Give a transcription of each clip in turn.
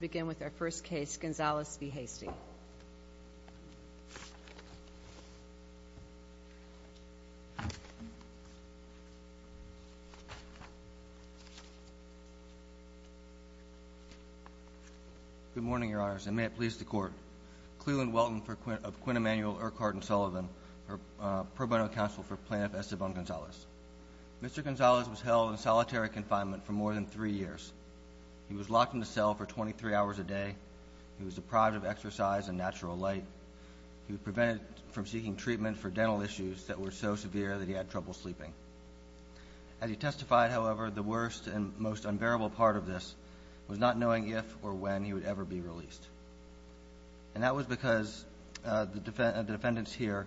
We begin with our first case, Gonzales v. Hasty. Good morning, Your Honors, and may it please the Court. Cleland Welton of Quinn Emanuel Urquhart & Sullivan, pro bono counsel for Plaintiff Esteban Gonzales. Mr. Gonzales was held in solitary confinement for more than three years. He was locked in a cell for 23 hours a day. He was deprived of exercise and natural light. He was prevented from seeking treatment for dental issues that were so severe that he had trouble sleeping. As he testified, however, the worst and most unbearable part of this was not knowing if or when he would ever be released. And that was because the defendants here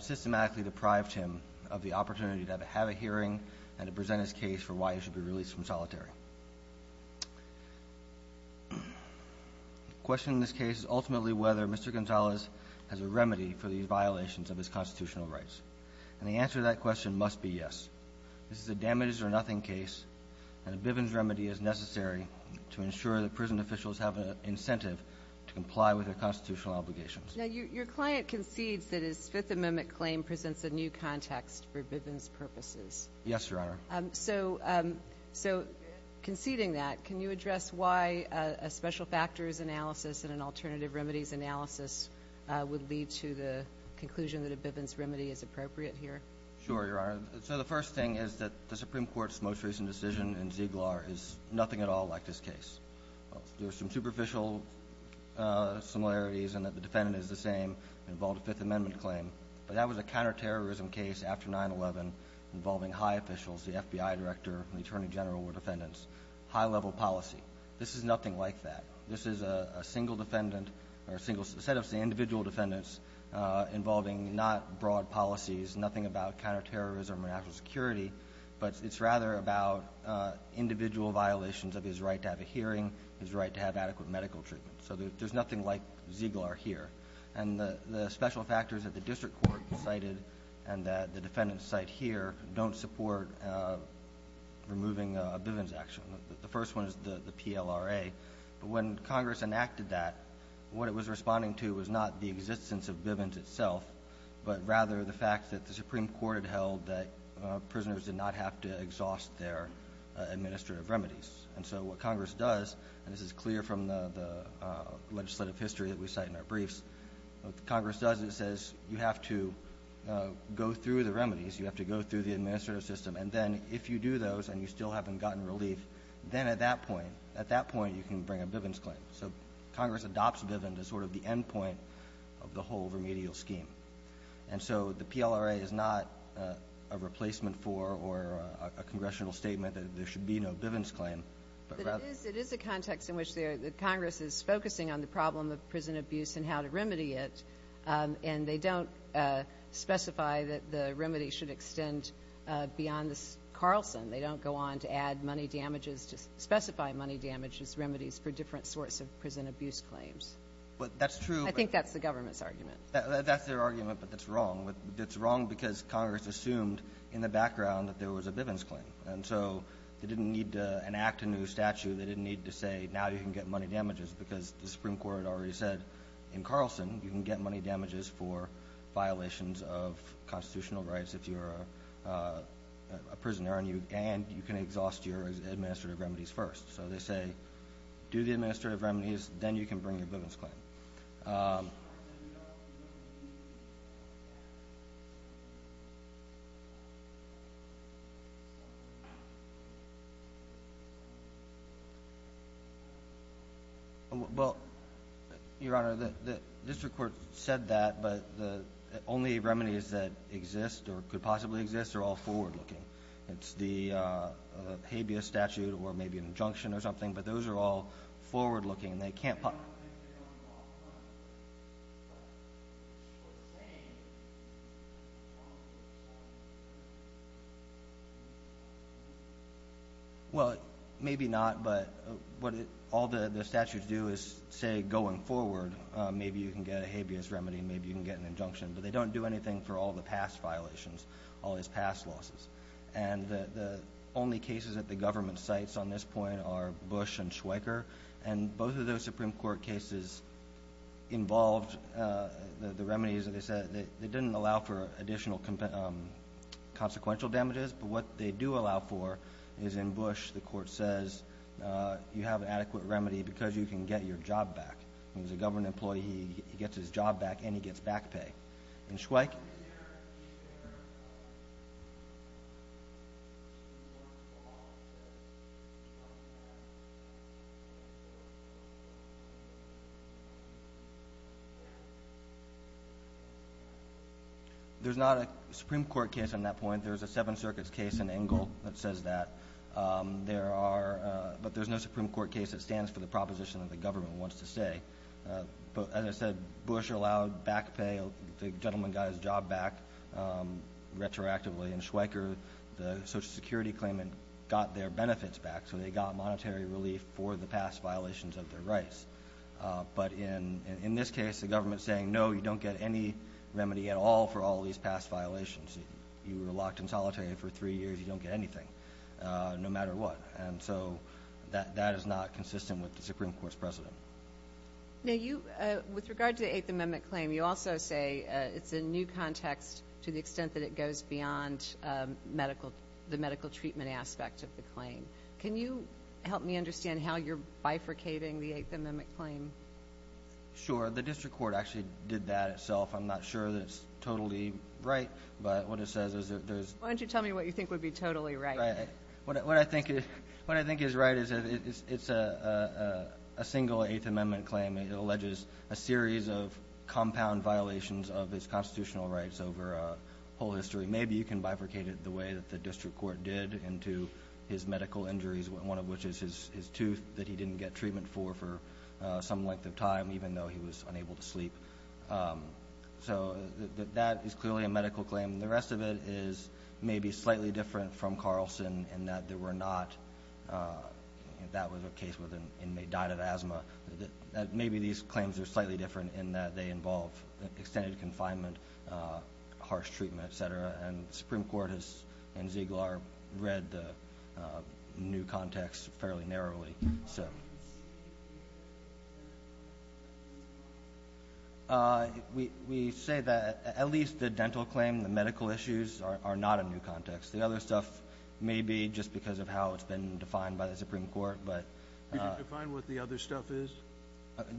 systematically deprived him of the opportunity to have a hearing and to present his case for why he should be released from solitary. The question in this case is ultimately whether Mr. Gonzales has a remedy for these violations of his constitutional rights. And the answer to that question must be yes. This is a damage-or-nothing case, and a Bivens remedy is necessary to ensure that prison officials have an incentive to comply with their constitutional obligations. Now, your client concedes that his Fifth Amendment claim presents a new context for Bivens purposes. Yes, Your Honor. So conceding that, can you address why a special factors analysis and an alternative remedies analysis would lead to the conclusion that a Bivens remedy is appropriate here? Sure, Your Honor. So the first thing is that the Supreme Court's most recent decision in Ziegler is nothing at all like this case. There are some superficial similarities in that the defendant is the same, involved a Fifth Amendment claim. But that was a case where the FBI Director and the Attorney General were defendants. High-level policy. This is nothing like that. This is a single defendant, or a set of individual defendants involving not broad policies, nothing about counterterrorism or national security, but it's rather about individual violations of his right to have a hearing, his right to have adequate medical treatment. So there's nothing like Ziegler here. And the special factors that the District Court cited and that the defendants cite here don't support removing a Bivens action. The first one is the PLRA. But when Congress enacted that, what it was responding to was not the existence of Bivens itself, but rather the fact that the Supreme Court had held that prisoners did not have to exhaust their administrative remedies. And so what Congress does, and this is clear from the legislative history that we cite in our briefs, what Congress does is it says you have to go through the remedies, you have to go through the administrative system, and then if you do those and you still haven't gotten relief, then at that point, at that point you can bring a Bivens claim. So Congress adopts Bivens as sort of the endpoint of the whole remedial scheme. And so the PLRA is not a replacement for or a congressional statement that there should be no Bivens claim, but rather But it is a context in which Congress is focusing on the problem of prison abuse and how to remedy it, and they don't specify that the remedy should extend beyond this Carlson. They don't go on to add money damages to specify money damages remedies for different sorts of prison abuse claims. But that's true. I think that's the government's argument. That's their argument, but that's wrong. It's wrong because Congress assumed in the background that there was a Bivens claim. And so they didn't need to enact a new Carlson, you can get money damages for violations of constitutional rights if you're a prisoner and you and you can exhaust your administrative remedies first. So they say, do the administrative remedies, then you can bring your Bivens claim. Well, Your Honor, the district court said that, but the only remedies that exist or could possibly exist are all forward-looking. It's the habeas statute or maybe an injunction or something, but those are all forward-looking. And they can't. Well, maybe not, but what all the statutes do is say going forward, maybe you can get a habeas remedy, maybe you can get an injunction, but they don't do anything for all the past violations, all these past losses. And the only cases that the government cites on this point are Bush and Schweiker. And both of those Supreme Court cases involved the remedies that they said that didn't allow for additional consequential damages. But what they do allow for is in Bush, the court says you have an adequate remedy because you can get your job back. And as a government employee, he gets his job back and he gets back pay. And Schweiker? There's not a Supreme Court case on that point. There's a Seven Circuits case in Engle that says that. But there's no Supreme Court case that stands for the proposition that the government wants to say. But as I said, Bush allowed back pay. The gentleman got his job back retroactively. And Schweiker, the Social Security claimant, got their benefits back. So they got monetary relief for the past violations of their rights. But in this case, the government is saying, no, you don't get any remedy at all for all these past violations. You were locked in solitary for three years. You don't get anything no matter what. And so that is not consistent with the Supreme Court's precedent. Now, with regard to the Eighth Amendment claim, you also say it's a new context to the extent that it goes beyond the medical treatment aspect of the claim. Can you help me understand how you're bifurcating the Eighth Amendment claim? Sure. The district court actually did that itself. I'm not sure that it's totally right. Why don't you tell me what you think would be totally right? What I think is right is it's a single Eighth Amendment claim. It alleges a series of compound violations of his constitutional rights over whole history. Maybe you can bifurcate it the way that the district court did into his medical injuries, one of which is his tooth that he didn't get treatment for for some length of time even though he was unable to sleep. So that is clearly a medical claim. The rest of it is maybe slightly different from Carlson in that there were not – that was a case where the inmate died of asthma. Maybe these claims are slightly different in that they involve extended confinement, harsh treatment, et cetera. And the Supreme Court has, in Ziegler, read the new context fairly narrowly. So. We say that at least the dental claim, the medical issues are not a new context. The other stuff may be just because of how it's been defined by the Supreme Court. Could you define what the other stuff is?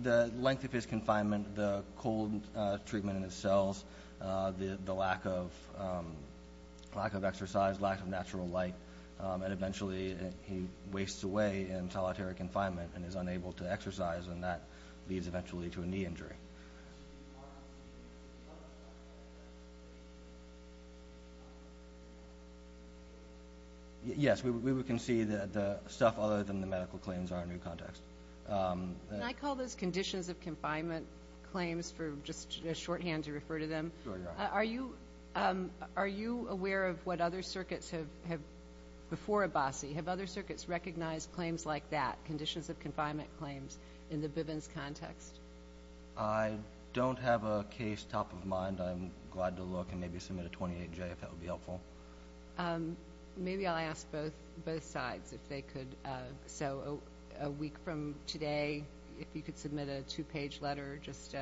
The length of his confinement, the cold treatment in his cells, the lack of exercise, lack of natural light, and eventually he wastes away in solitary confinement and is unable to exercise, and that leads eventually to a knee injury. Yes, we can see that the stuff other than the medical claims are a new context. Can I call those conditions of confinement claims for just a shorthand to refer to them? Sure, go ahead. Are you aware of what other circuits have, before Abbasi, have other circuits recognized claims like that, conditions of confinement claims, in the Bivens context? I don't have a case top of mind. I'm glad to look and maybe submit a 28J if that would be helpful. Maybe I'll ask both sides if they could. So a week from today, if you could submit a two-page letter just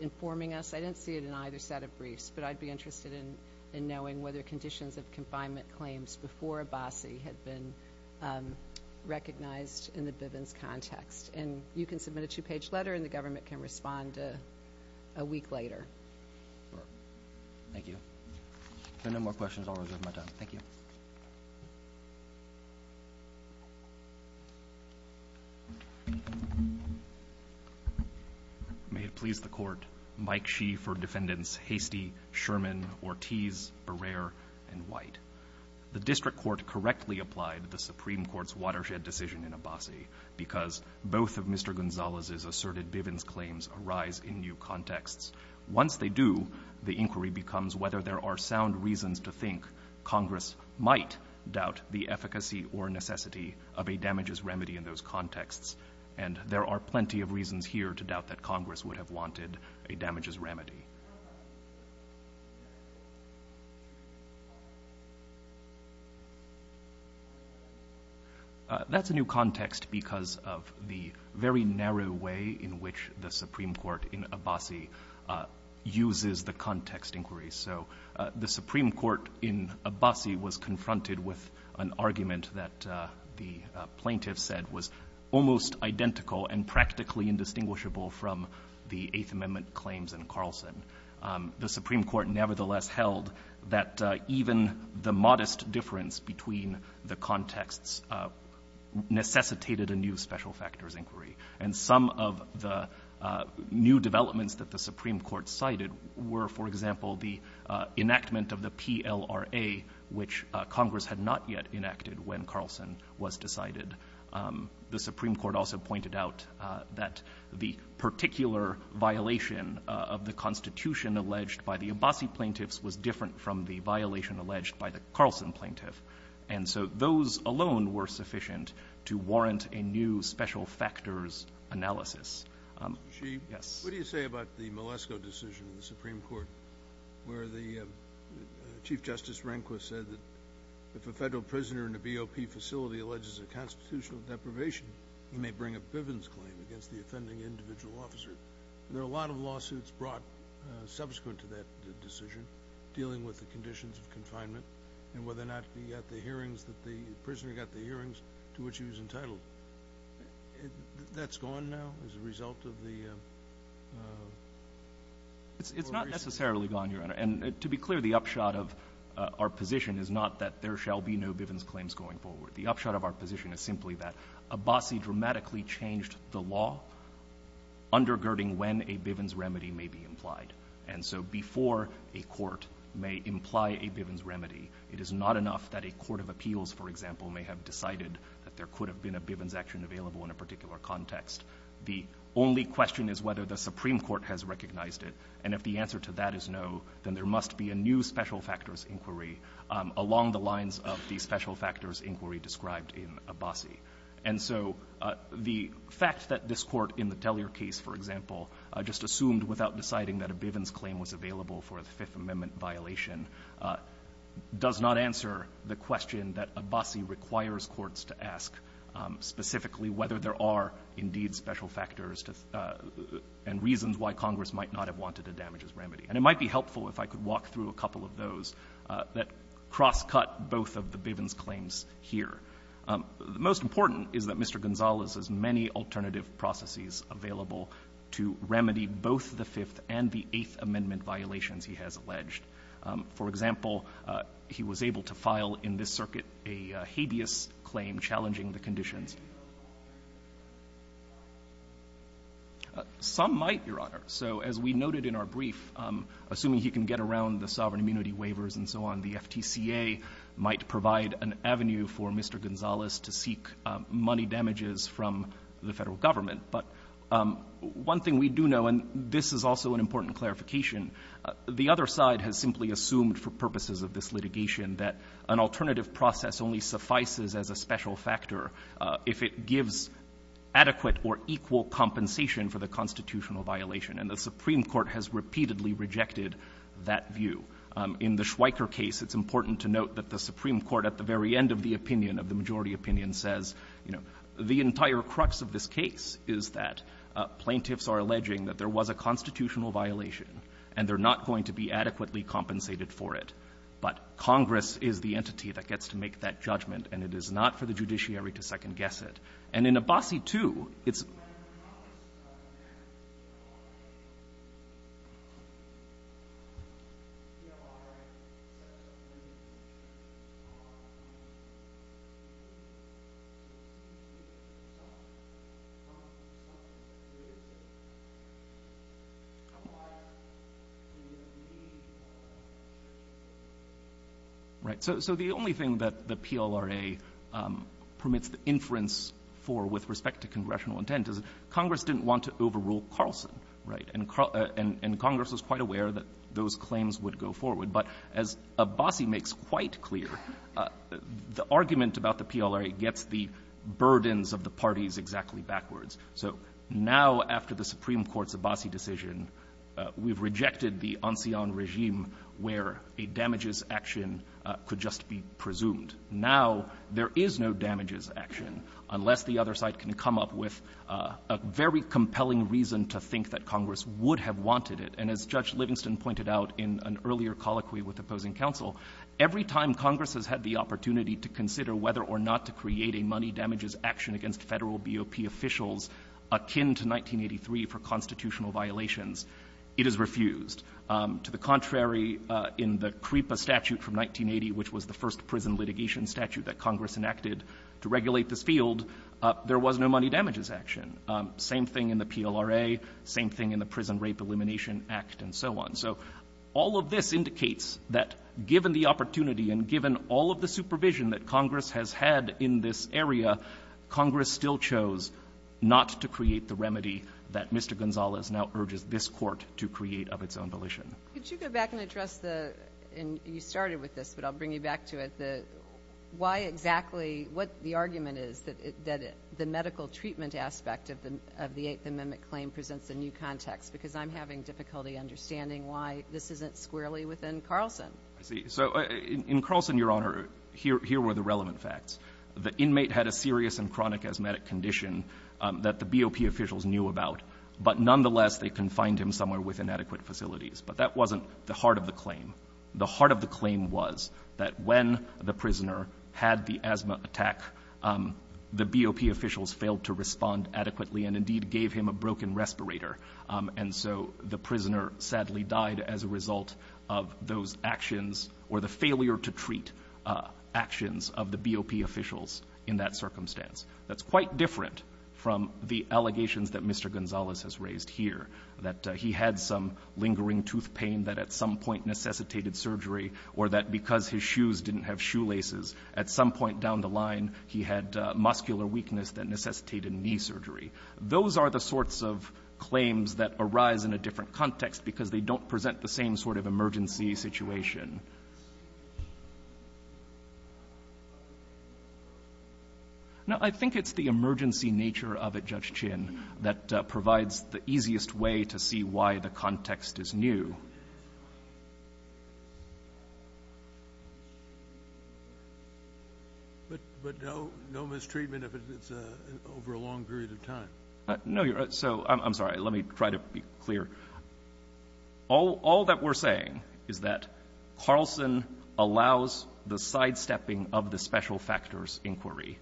informing us. I didn't see it in either set of briefs, but I'd be interested in knowing whether conditions of confinement claims before Abbasi had been recognized in the Bivens context. And you can submit a two-page letter and the government can respond a week later. Thank you. If there are no more questions, I'll reserve my time. Thank you. May it please the Court. Mike Shee for Defendants Hastie, Sherman, Ortiz, Barrer, and White. The district court correctly applied the Supreme Court's watershed decision in Abbasi because both of Mr. Gonzalez's asserted Bivens claims arise in new contexts. Once they do, the inquiry becomes whether there are sound reasons to think Congress might doubt the efficacy or necessity of a damages remedy in those contexts, and there are plenty of reasons here to doubt that Congress would have wanted a damages remedy. That's a new context because of the very narrow way in which the Supreme Court in Abbasi uses the context inquiry. So the Supreme Court in Abbasi was confronted with an argument that the plaintiff said was almost identical and practically indistinguishable from the Eighth Amendment claims in Carlson. The Supreme Court nevertheless held that even the modest difference between the contexts necessitated a new special factors inquiry. And some of the new developments that the Supreme Court cited were, for example, the enactment of the PLRA, which Congress had not yet enacted when Carlson was decided. The Supreme Court also pointed out that the particular violation of the Constitution alleged by the Abbasi plaintiffs was different from the violation alleged by the Carlson plaintiff. And so those alone were sufficient to warrant a new special factors analysis. Yes. What do you say about the Malesko decision in the Supreme Court where the Chief Justice Rehnquist said that if a federal prisoner in a BOP facility alleges a constitutional deprivation, he may bring a Bivens claim against the offending individual officer? And there are a lot of lawsuits brought subsequent to that decision dealing with the conditions of confinement and whether or not the prisoner got the hearings to which he was entitled. That's gone now as a result of the or recently? It's not necessarily gone, Your Honor. And to be clear, the upshot of our position is not that there shall be no Bivens claims going forward. The upshot of our position is simply that Abbasi dramatically changed the law undergirding when a Bivens remedy may be implied. And so before a court may imply a Bivens remedy, it is not enough that a court of appeals, for example, may have decided that there could have been a Bivens action available in a particular context. The only question is whether the Supreme Court has recognized it. And if the answer to that is no, then there must be a new special factors inquiry along the lines of the special factors inquiry described in Abbasi. And so the fact that this Court in the Tellier case, for example, just assumed without deciding that a Bivens claim was available for a Fifth Amendment violation does not answer the question that Abbasi requires courts to ask specifically whether there are indeed special factors and reasons why Congress might not have wanted a damages remedy. And it might be helpful if I could walk through a couple of those that crosscut both of the Bivens claims here. The most important is that Mr. Gonzales has many alternative processes available to remedy both the Fifth and the Eighth Amendment violations he has alleged. For example, he was able to file in this circuit a habeas claim challenging the conditions. Some might, Your Honor. So as we noted in our brief, assuming he can get around the sovereign immunity waivers and so on, the FTCA might provide an avenue for Mr. Gonzales to seek money damages from the Federal Government. But one thing we do know, and this is also an important clarification, the other side has simply assumed for purposes of this litigation that an alternative process only suffices as a special factor if it gives adequate or equal compensation for the constitutional violation. And the Supreme Court has repeatedly rejected that view. In the Schweiker case, it's important to note that the Supreme Court at the very end of the opinion, of the majority opinion, says, you know, the entire crux of this case is that plaintiffs are alleging that there was a constitutional violation and they're not going to be adequately compensated for it. But Congress is the entity that gets to make that judgment, and it is not for the judiciary to second-guess it. And in Abbasi, too, it's — Right. So the only thing that the PLRA permits the inference for with respect to Carlson, right? And Congress was quite aware that those claims would go forward. But as Abbasi makes quite clear, the argument about the PLRA gets the burdens of the parties exactly backwards. So now, after the Supreme Court's Abbasi decision, we've rejected the ancien regime where a damages action could just be presumed. Now there is no damages action unless the other side can come up with a very compelling reason to think that Congress would have wanted it. And as Judge Livingston pointed out in an earlier colloquy with opposing counsel, every time Congress has had the opportunity to consider whether or not to create a money damages action against Federal BOP officials akin to 1983 for constitutional violations, it is refused. To the contrary, in the CREPA statute from 1980, which was the first thing in the Prison Rape Elimination Act and so on. So all of this indicates that given the opportunity and given all of the supervision that Congress has had in this area, Congress still chose not to create the remedy that Mr. Gonzalez now urges this Court to create of its own volition. Could you go back and address the — and you started with this, but I'll bring you back to it — the — why exactly — what the argument is that the medical treatment aspect of the Eighth Amendment claim presents a new context? Because I'm having difficulty understanding why this isn't squarely within Carlson. I see. So in Carlson, Your Honor, here were the relevant facts. The inmate had a serious and chronic asthmatic condition that the BOP officials knew about, but nonetheless they confined him somewhere with inadequate facilities. But that wasn't the heart of the claim. The heart of the claim was that when the prisoner had the asthma attack, the BOP officials failed to respond adequately and indeed gave him a broken respirator. And so the prisoner sadly died as a result of those actions or the failure to treat actions of the BOP officials in that circumstance. That's quite different from the allegations that Mr. Gonzalez has raised here, that he had some lingering tooth pain that at some point necessitated surgery or that because his shoes didn't have shoelaces, at some point down the line he had muscular weakness that necessitated knee surgery. Those are the sorts of claims that arise in a different context because they don't present the same sort of emergency situation. Now, I think it's the emergency nature of it, Judge Chin, that provides the easiest way to see why the context is new. But no mistreatment if it's over a long period of time? No. So I'm sorry. Let me try to be clear. All that we're saying is that Carlson allows the sidestepping of the special factors inquiry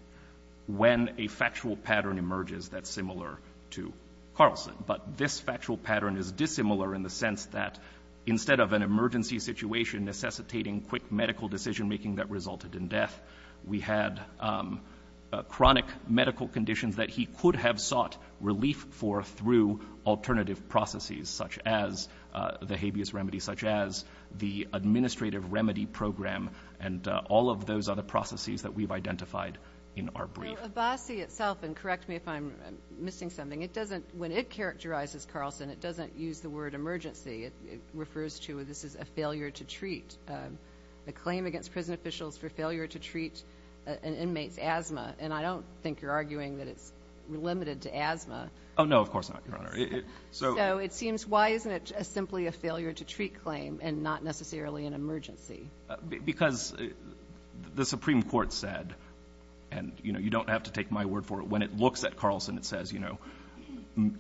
when a factual pattern emerges that's similar to Carlson. But this factual pattern is dissimilar in the sense that instead of an emergency situation necessitating quick medical decision-making that resulted in death, we had chronic medical conditions that he could have sought relief for through alternative processes such as the habeas remedy, such as the administrative remedy program and all of those other processes that we've identified in our brief. So Abbasi itself, and correct me if I'm missing something, when it characterizes Carlson, it doesn't use the word emergency. It refers to this as a failure to treat. The claim against prison officials for failure to treat an inmate's asthma, and I don't think you're arguing that it's limited to asthma. Oh, no, of course not, Your Honor. So it seems, why isn't it simply a failure to treat claim and not necessarily an emergency? Because the Supreme Court said, and, you know, you don't have to take my word for it, when it looks at Carlson, it says, you know,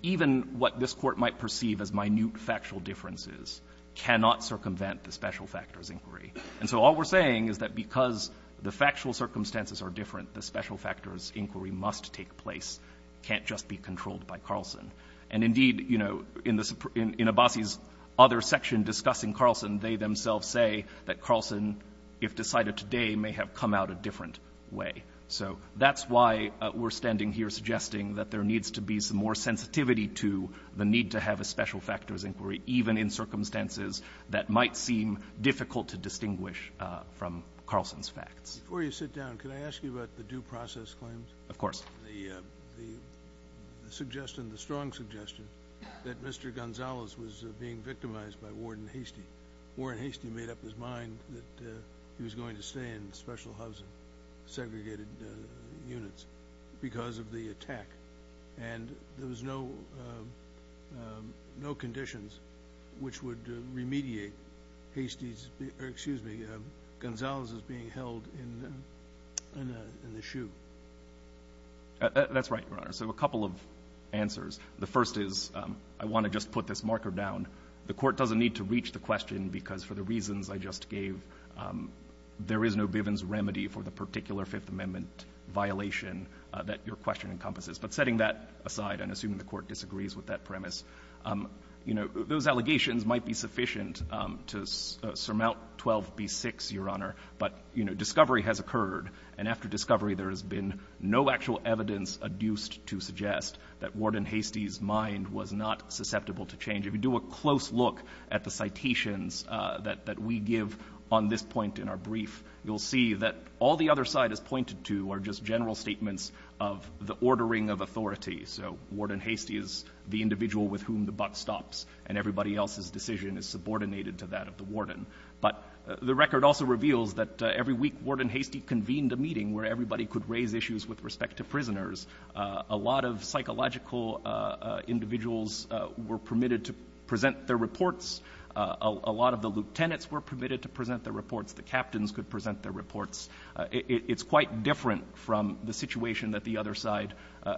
even what this Court might perceive as minute factual differences cannot circumvent the special factors inquiry. And so all we're saying is that because the factual circumstances are different, the special factors inquiry must take place, can't just be controlled by Carlson. And indeed, you know, in Abbasi's other section discussing Carlson, they themselves say that Carlson, if decided today, may have come out a different way. So that's why we're standing here suggesting that there needs to be some more sensitivity to the need to have a special factors inquiry, even in circumstances that might seem difficult to distinguish from Carlson's facts. Before you sit down, can I ask you about the due process claims? Of course. The suggestion, the strong suggestion, that Mr. Gonzalez was being victimized by Ward and Hastie. Ward and Hastie made up his mind that he was going to stay in special housing, segregated units, because of the attack. And there was no conditions which would remediate Hastie's, or excuse me, Gonzalez's being held in the shoe. That's right, Your Honor. So a couple of answers. The first is I want to just put this marker down. The Court doesn't need to reach the question, because for the reasons I just gave, there is no Bivens remedy for the particular Fifth Amendment violation that your question encompasses. But setting that aside and assuming the Court disagrees with that premise, you know, those allegations might be sufficient to surmount 12b-6, Your Honor. But, you know, discovery has occurred. And after discovery, there has been no actual evidence adduced to suggest that Ward and Hastie's mind was not susceptible to change. If you do a close look at the citations that we give on this point in our brief, you'll see that all the other side has pointed to are just general statements of the ordering of authority. So Ward and Hastie is the individual with whom the buck stops, and everybody else's decision is subordinated to that of the warden. But the record also reveals that every week Ward and Hastie convened a meeting where everybody could raise issues with respect to prisoners. A lot of psychological individuals were permitted to present their reports. A lot of the lieutenants were permitted to present their reports. The captains could present their reports. It's quite different from the situation that the other side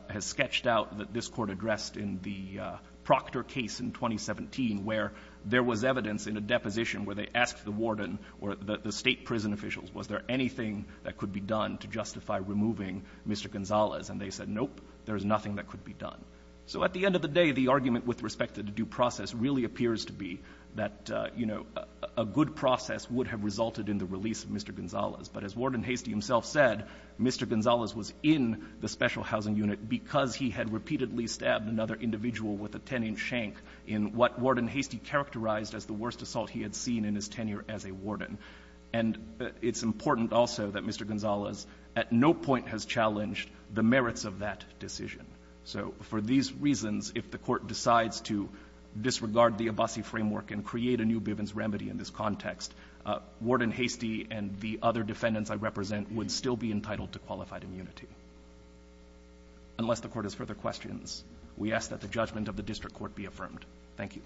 has sketched out, that this Court addressed in the Proctor case in 2017, where there was evidence in a deposition where they asked the warden or the State prison officials, was there anything that could be done to justify removing Mr. Gonzalez? And they said, nope, there is nothing that could be done. So at the end of the day, the argument with respect to the due process really appears to be that, you know, a good process would have resulted in the release of Mr. Gonzalez. But as Warden Hastie himself said, Mr. Gonzalez was in the special housing unit because he had repeatedly stabbed another individual with a 10-inch shank in what Warden Hastie characterized as the worst assault he had seen in his tenure as a warden. And it's important also that Mr. Gonzalez at no point has challenged the merits of that decision. So for these reasons, if the Court decides to disregard the Abbasi framework and create a new Bivens remedy in this context, Warden Hastie and the other defendants I represent would still be entitled to qualified immunity. Unless the Court has further questions, we ask that the judgment of the district court be affirmed. Thank you.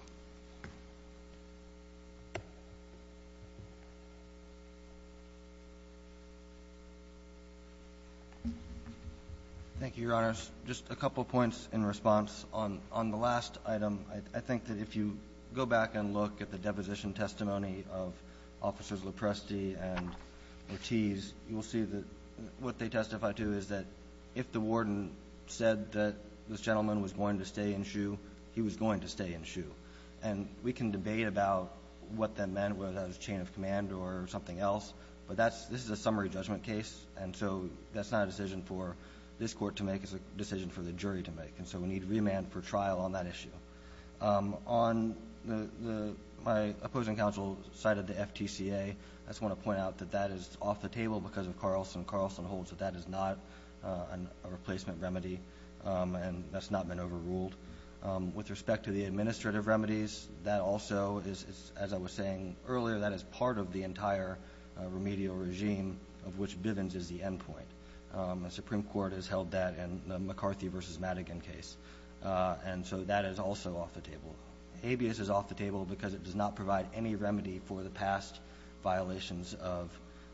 Thank you, Your Honors. Just a couple points in response. On the last item, I think that if you go back and look at the deposition testimony of Officers Lopresti and Ortiz, you will see that what they testify to is that if the warden said that this gentleman was going to stay in SHU, he was going to stay in SHU. And we can debate about what that meant, whether that was chain of command or something else, but this is a summary judgment case, and so that's not a decision for this court to make. It's a decision for the jury to make. And so we need remand for trial on that issue. My opposing counsel cited the FTCA. I just want to point out that that is off the table because of Carlson. Carlson holds that that is not a replacement remedy, and that's not been overruled. With respect to the administrative remedies, that also is, as I was saying earlier, that is part of the entire remedial regime of which Bivens is the endpoint. The Supreme Court has held that in the McCarthy v. Madigan case, and so that is also off the table. Habeas is off the table because it does not provide any remedy for the past violations of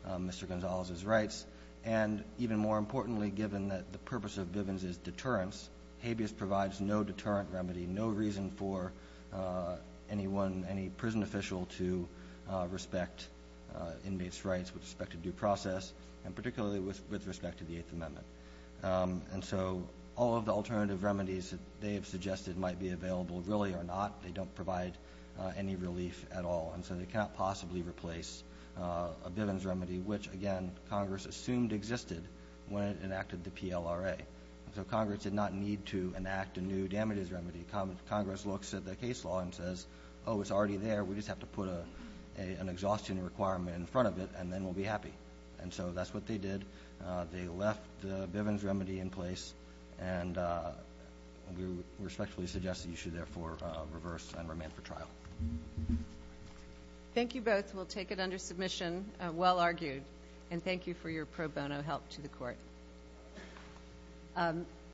Mr. Gonzalez's rights. And even more importantly, given that the purpose of Bivens is deterrence, Habeas provides no deterrent remedy, no reason for anyone, any prison official to respect inmates' rights with respect to due process, and particularly with respect to the Eighth Amendment. And so all of the alternative remedies that they have suggested might be available really are not. They don't provide any relief at all. And so they cannot possibly replace a Bivens remedy, which, again, Congress assumed existed when it enacted the PLRA. So Congress did not need to enact a new damages remedy. Congress looks at the case law and says, oh, it's already there. We just have to put an exhaustion requirement in front of it, and then we'll be happy. And so that's what they did. They left the Bivens remedy in place, and we respectfully suggest that you should therefore reverse and remain for trial. Thank you both. We'll take it under submission. Well argued. And thank you for your pro bono help to the Court.